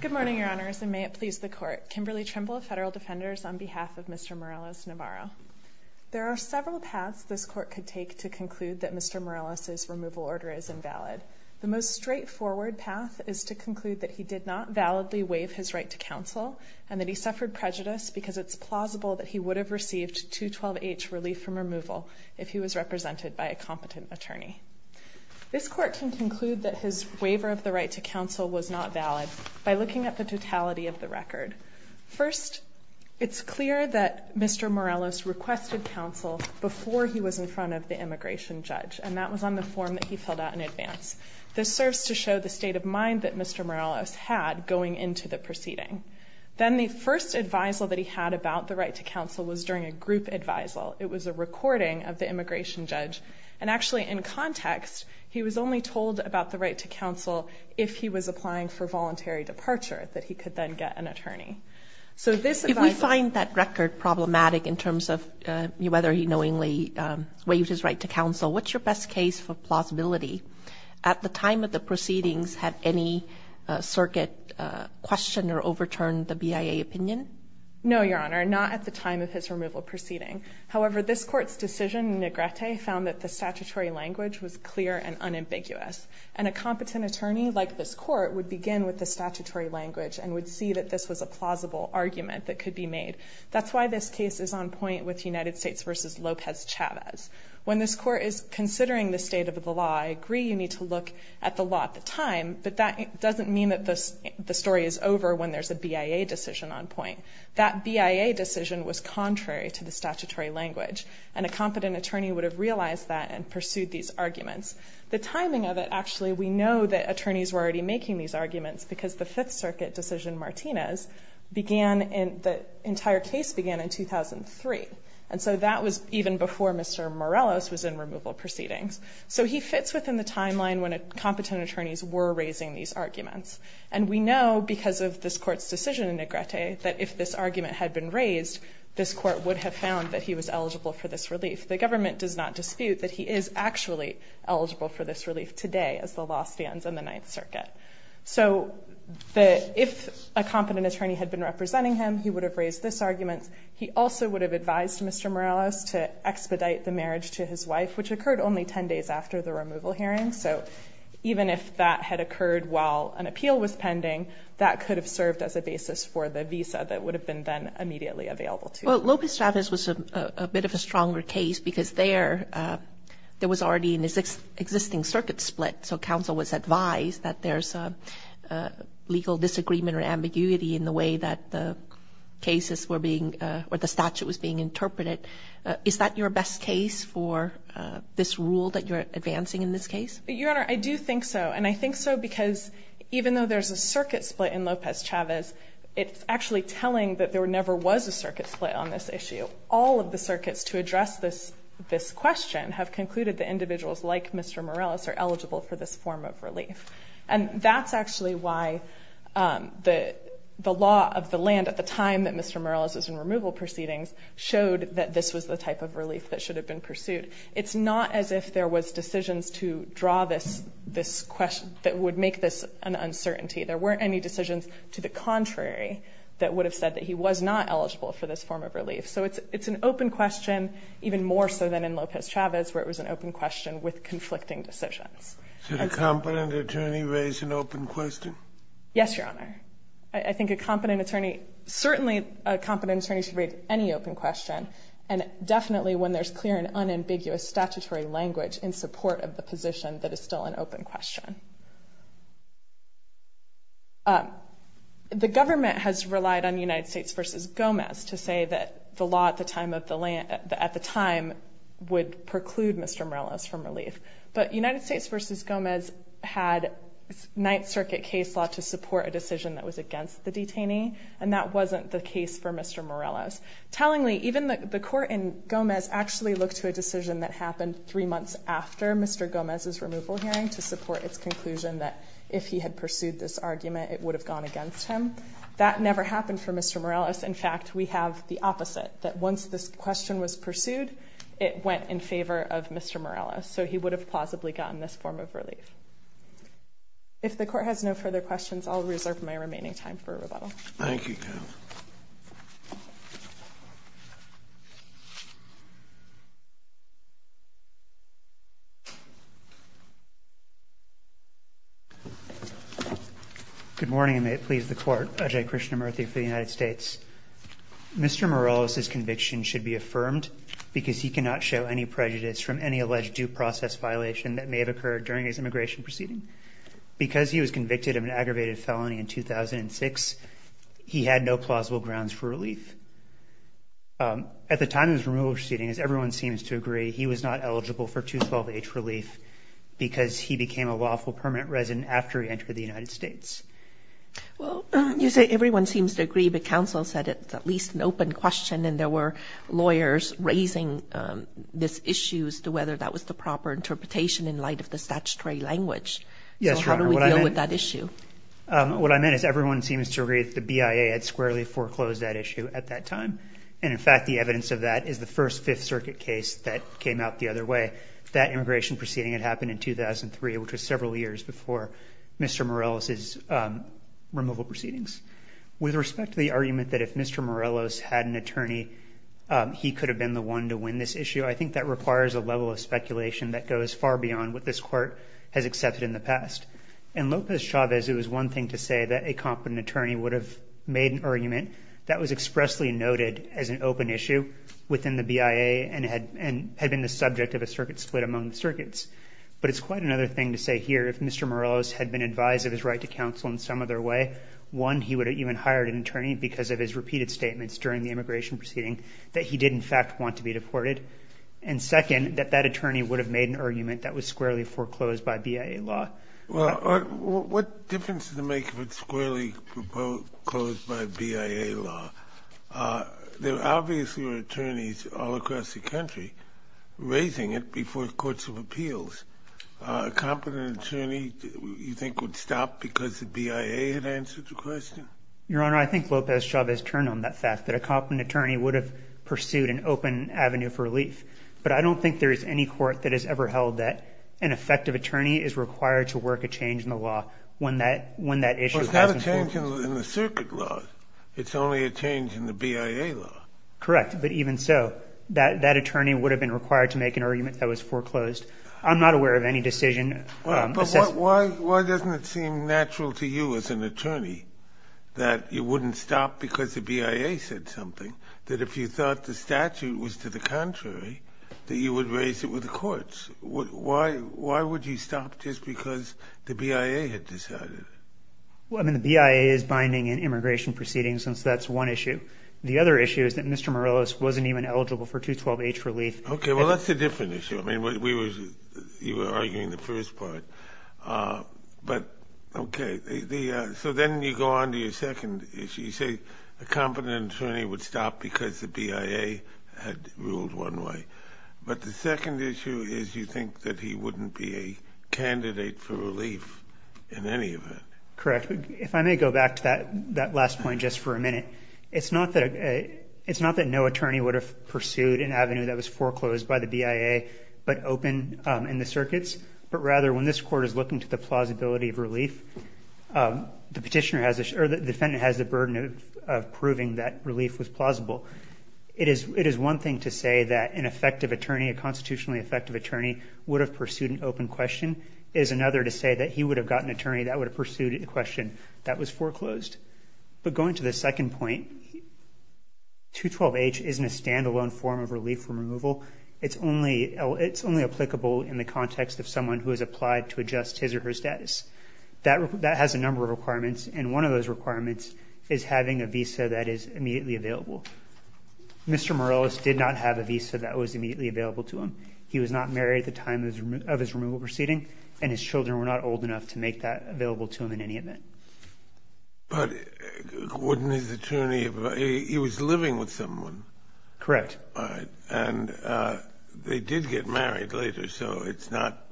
Good morning, Your Honors, and may it please the Court. Kimberly Trimble of Federal Defenders on behalf of Mr. Morelos-Navarro. There are several paths this Court could take to conclude that Mr. Morelos' removal order is invalid. The most straightforward path is to conclude that he did not validly waive his right to counsel and that he suffered prejudice because it's plausible that he would have received 212H relief from removal if he was represented by a competent attorney. This Court can conclude that his waiver of the right to counsel was not valid by looking at the totality of the record. First, it's clear that Mr. Morelos requested counsel before he was in front of the immigration judge, and that was on the form that he filled out in advance. This serves to show the state of mind that Mr. Morelos had going into the proceeding. Then the first advisal that he had about the right to counsel was during a group advisal. It was a recording of the immigration judge, and actually in context he was only told about the right to counsel if he was applying for voluntary departure, that he could then get an attorney. So this advisal... If we find that record problematic in terms of whether he knowingly waived his right to counsel, what's your best case for plausibility? At the time of the proceedings, had any circuit questioner overturned the BIA opinion? No, Your Honor, not at the time of his removal proceeding. However, this Court's decision in Negrete found that the statutory language was clear and unambiguous. And a competent attorney like this Court would begin with the statutory language and would see that this was a plausible argument that could be made. That's why this case is on point with United States v. Lopez-Chavez. When this Court is considering the state of the law, I agree you need to look at the law at the time, but that doesn't mean that the story is over when there's a BIA decision on point. That BIA decision was contrary to the statutory language, and a competent attorney would have realized that and pursued these arguments. The timing of it, actually, we know that attorneys were already making these arguments because the Fifth Circuit decision, Martinez, began in... The entire case began in 2003, and so that was even before Mr. Morelos was in removal proceedings. So he fits within the timeline when competent attorneys were raising these arguments. And we know, because of this Court's decision in Negrete, that if this argument had been raised, this Court would have found that he was eligible for this relief. The government does not dispute that he is actually eligible for this relief today as the law stands in the Ninth Circuit. So if a competent attorney had been representing him, he would have raised this argument. He also would have advised Mr. Morelos to expedite the marriage to his wife, which occurred only 10 days after the removal hearing. So even if that had occurred while an appeal was pending, that could have served as a basis for the visa that would have been then immediately available to him. Well, Lopez-Travis was a bit of a stronger case because there was already an existing circuit split. So counsel was advised that there's legal disagreement or ambiguity in the way that the cases were being... Or the statute was being interpreted. Is that your advancing in this case? Your Honor, I do think so. And I think so because even though there's a circuit split in Lopez-Travis, it's actually telling that there never was a circuit split on this issue. All of the circuits to address this question have concluded that individuals like Mr. Morelos are eligible for this form of relief. And that's actually why the law of the land at the time that Mr. Morelos was in removal proceedings showed that this was the type of relief that It's not as if there was decisions to draw this question that would make this an uncertainty. There weren't any decisions to the contrary that would have said that he was not eligible for this form of relief. So it's an open question, even more so than in Lopez-Travis, where it was an open question with conflicting decisions. Should a competent attorney raise an open question? Yes, Your Honor. I think a competent attorney, certainly a competent attorney should raise any open question. And definitely when there's clear and unambiguous statutory language in support of the position, that is still an open question. The government has relied on United States v. Gomez to say that the law at the time would preclude Mr. Morelos from relief. But United States v. Gomez had Ninth Circuit case law to support a decision that was against the detainee. And that wasn't the case for Mr. Morelos. Tellingly, even the court in Gomez actually looked to a decision that happened three months after Mr. Gomez's removal hearing to support its conclusion that if he had pursued this argument, it would have gone against him. That never happened for Mr. Morelos. In fact, we have the opposite, that once this question was pursued, it went in favor of Mr. Morelos. So he would have plausibly gotten this form of relief. If the court has no further questions, I'll reserve my remaining time for rebuttal. Thank you, Kathryn. Good morning, and may it please the court. Ajay Krishnamurthy for the United States. Mr. Morelos's conviction should be affirmed because he cannot show any prejudice from any previous immigration proceeding. Because he was convicted of an aggravated felony in 2006, he had no plausible grounds for relief. At the time of his removal proceeding, as everyone seems to agree, he was not eligible for 212H relief because he became a lawful permanent resident after he entered the United States. Well, you say everyone seems to agree, but counsel said it's at least an open question, and there were lawyers raising this issue as to whether that was the proper interpretation in light of the statutory language. So how do we deal with that issue? What I meant is everyone seems to agree that the BIA had squarely foreclosed that issue at that time. And in fact, the evidence of that is the first Fifth Circuit case that came out the other way. That immigration proceeding had happened in 2003, which was several years before Mr. Morelos's removal proceedings. With respect to the argument that if Mr. Morelos had an attorney, he could have been the one to win this issue, I think that requires a level of speculation that goes far beyond what this Court has accepted in the past. In Lopez-Chavez, it was one thing to say that a competent attorney would have made an argument that was expressly noted as an open issue within the BIA and had been the subject of a circuit split among the circuits. But it's quite another thing to say here, if Mr. Morelos had been advised of his right to counsel in some other way, one, he would have even hired an attorney because of his repeated statements that that attorney would have made an argument that was squarely foreclosed by BIA law. Well, what difference does it make if it's squarely foreclosed by BIA law? There obviously are attorneys all across the country raising it before courts of appeals. A competent attorney, you think, would stop because the BIA had answered the question? Your Honor, I think Lopez-Chavez turned on that fact, that a competent attorney would have pursued an open avenue for relief. But I don't think there is any court that has ever held that an effective attorney is required to work a change in the law when that issue has been foreclosed. Well, it's not a change in the circuit law. It's only a change in the BIA law. Correct. But even so, that attorney would have been required to make an argument that was foreclosed. I'm not aware of any decision. But why doesn't it seem natural to you as an attorney that you wouldn't stop because the BIA said something, that if you thought the statute was to the contrary, that you would raise it with the courts? Why would you stop just because the BIA had decided? Well, I mean, the BIA is binding in immigration proceedings, and so that's one issue. The other issue is that Mr. Morelos wasn't even eligible for 212-H relief. Okay. Well, that's a different issue. I mean, you were arguing the first part. But okay. So then you go on to your second issue. You say a competent attorney would stop because the BIA had ruled one way. But the second issue is you think that he wouldn't be a candidate for relief in any event. Correct. If I may go back to that last point just for a minute, it's not that no attorney would have pursued an avenue that was foreclosed by the BIA but open in the circuits, but rather when this court is looking to the plausibility of relief, the defendant has the burden of proving that relief was plausible. It is one thing to say that an effective attorney, a constitutionally effective attorney, would have pursued an open question. It is another to say that he would have got an attorney that would have pursued a question that was foreclosed. But going to the second point, 212-H isn't a standalone form of relief from removal. It's only applicable in the context of someone who has applied to adjust his or her status. That has a number of requirements, and one of those requirements is having a visa that is immediately available. Mr. Morales did not have a visa that was immediately available to him. He was not married at the time of his removal proceeding, and his children were not old enough to make that available to him in any event. But wouldn't his attorney have – he was living with someone. Correct. All right. And they did get married later, so it's not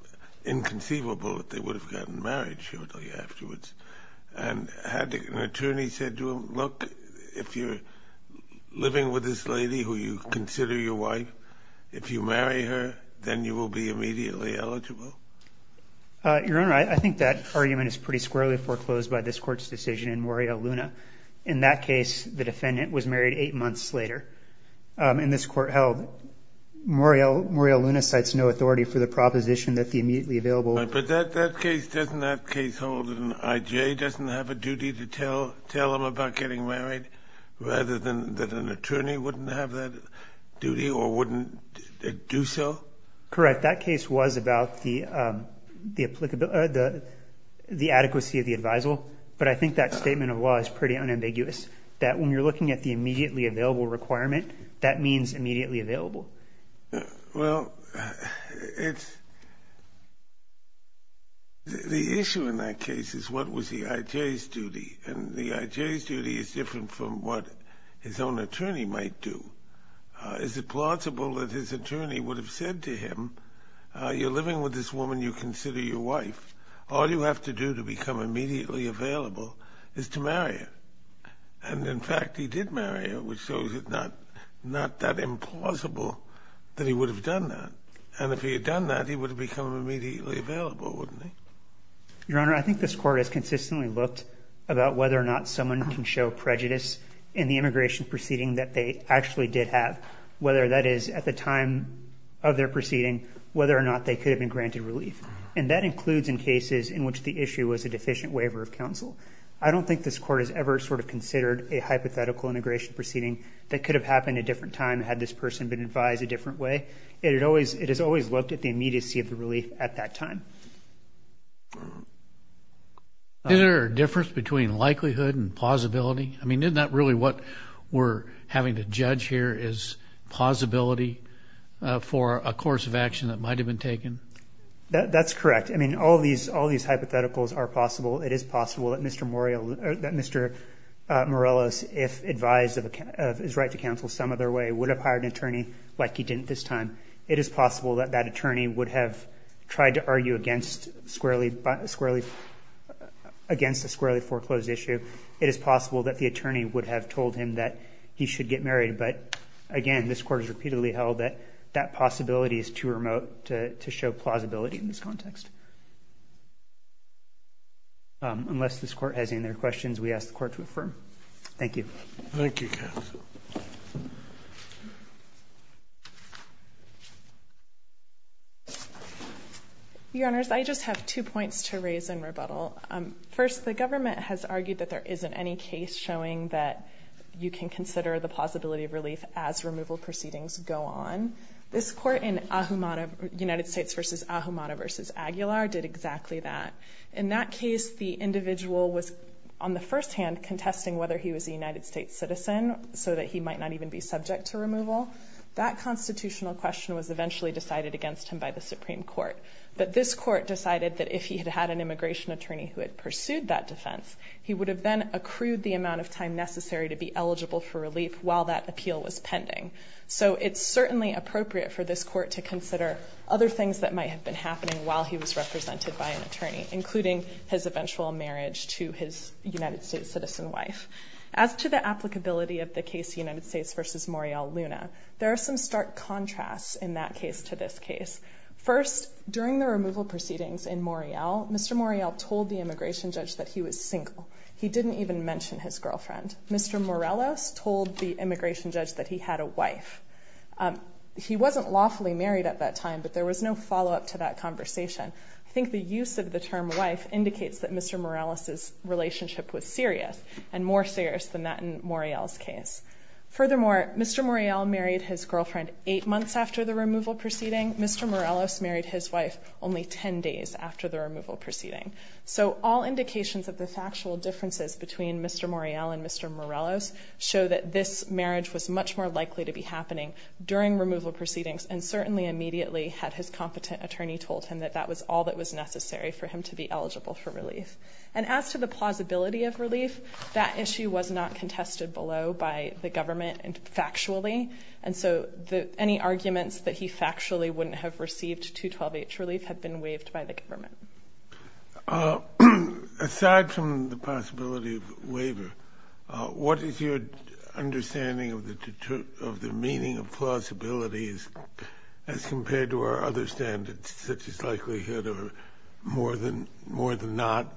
inconceivable that they would have gotten married shortly afterwards. And had an attorney said to him, look, if you're living with this lady who you consider your wife, if you marry her, then you will be immediately eligible? Your Honor, I think that argument is pretty squarely foreclosed by this Court's decision in Morial Luna. In that case, the defendant was married 8 months later. In this court held, Morial Luna cites no authority for the proposition that the immediately available – But that case doesn't have case holdings. I.J. doesn't have a duty to tell him about getting married, rather than that an attorney wouldn't have that duty or wouldn't do so? Correct. That case was about the adequacy of the advisal, but I think that statement of law is pretty unambiguous, that when you're looking at the immediately available requirement, that means immediately available. Well, it's – the issue in that case is what was the I.J.'s duty, and the I.J.'s duty is different from what his own attorney might do. Is it plausible that his attorney would have said to him, you're living with this woman you consider your wife, all you have to do to become immediately available is to marry her? And, in fact, he did marry her, which shows it's not that implausible that he would have done that. And if he had done that, he would have become immediately available, wouldn't he? Your Honor, I think this Court has consistently looked about whether or not someone can show prejudice in the immigration proceeding that they actually did have, whether that is at the time of their proceeding, whether or not they could have been granted relief. And that includes in cases in which the issue was a deficient waiver of counsel. I don't think this Court has ever sort of considered a hypothetical immigration proceeding that could have happened at a different time had this person been advised a different way. It has always looked at the immediacy of the relief at that time. Is there a difference between likelihood and plausibility? I mean, isn't that really what we're having to judge here is plausibility for a course of action that might have been taken? That's correct. I mean, all these hypotheticals are possible. It is possible that Mr. Morelos, if advised of his right to counsel some other way, would have hired an attorney like he didn't this time. It is possible that that attorney would have tried to argue against a squarely foreclosed issue. It is possible that the attorney would have told him that he should get married. But, again, this Court has repeatedly held that that possibility is too remote to show plausibility in this context. Unless this Court has any other questions, we ask the Court to affirm. Thank you. Thank you, counsel. Your Honors, I just have two points to raise in rebuttal. First, the government has argued that there isn't any case showing that you can consider the plausibility of relief as removal proceedings go on. This Court in United States v. Ahumada v. Aguilar did exactly that. In that case, the individual was, on the first hand, contesting whether he was a United States citizen so that he might not even be subject to removal. That constitutional question was eventually decided against him by the Supreme Court. But this Court decided that if he had had an immigration attorney who had pursued that defense, he would have then accrued the amount of time necessary to be eligible for relief while that appeal was pending. So it's certainly appropriate for this Court to consider other things that might have been happening while he was represented by an attorney, including his eventual marriage to his United States citizen wife. As to the applicability of the case United States v. Morial Luna, there are some stark contrasts in that case to this case. First, during the removal proceedings in Morial, Mr. Morial told the immigration judge that he was single. He didn't even mention his girlfriend. Mr. Morales told the immigration judge that he had a wife. He wasn't lawfully married at that time, but there was no follow-up to that conversation. I think the use of the term wife indicates that Mr. Morales' relationship was serious, and more serious than that in Morial's case. Furthermore, Mr. Morial married his girlfriend eight months after the removal proceeding. Mr. Morales married his wife only 10 days after the removal proceeding. So all indications of the factual differences between Mr. Morial and Mr. Morales show that this marriage was much more likely to be happening during removal proceedings and certainly immediately had his competent attorney told him that that was all that was necessary for him to be eligible for relief. And as to the plausibility of relief, that issue was not contested below by the government factually, and so any arguments that he factually wouldn't have received 212H relief had been waived by the government. Aside from the possibility of waiver, what is your understanding of the meaning of plausibility as compared to our other standards, such as likelihood or more than not?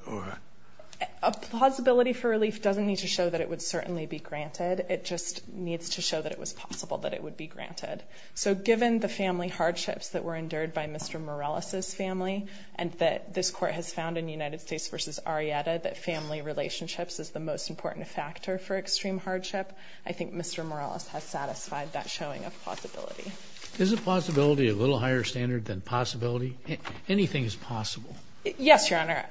A plausibility for relief doesn't need to show that it would certainly be granted. It just needs to show that it was possible that it would be granted. So given the family hardships that were endured by Mr. Morales' family and that this Court has found in United States v. Arrieta that family relationships is the most important factor for extreme hardship, I think Mr. Morales has satisfied that showing of plausibility. Is a plausibility a little higher standard than possibility? Anything is possible. Yes, Your Honor.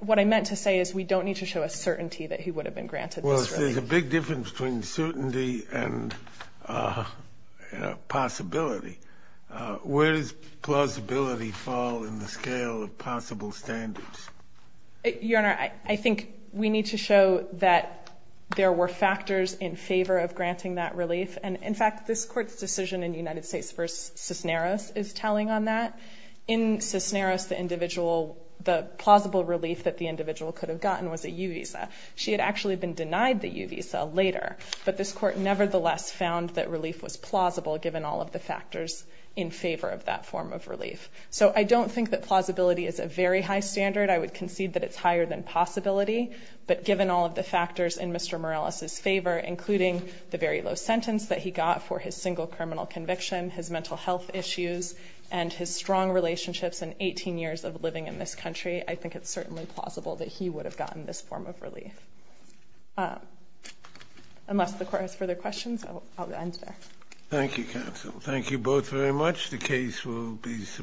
What I meant to say is we don't need to show a certainty that he would have been granted this relief. Well, if there's a big difference between certainty and possibility, where does plausibility fall in the scale of possible standards? Your Honor, I think we need to show that there were factors in favor of granting that relief. And, in fact, this Court's decision in United States v. Cisneros is telling on that. In Cisneros, the individual, the plausible relief that the individual could have gotten was a U visa. She had actually been denied the U visa later, but this Court nevertheless found that relief was plausible given all of the factors in favor of that form of relief. So I don't think that plausibility is a very high standard. I would concede that it's higher than possibility, but given all of the factors in Mr. Morales' favor, including the very low sentence that he got for his single criminal conviction, his mental health issues, and his strong relationships and 18 years of living in this country, I think it's certainly plausible that he would have gotten this form of relief. Unless the Court has further questions, I'll end there. Thank you, counsel. Thank you both very much. The case will be submitted.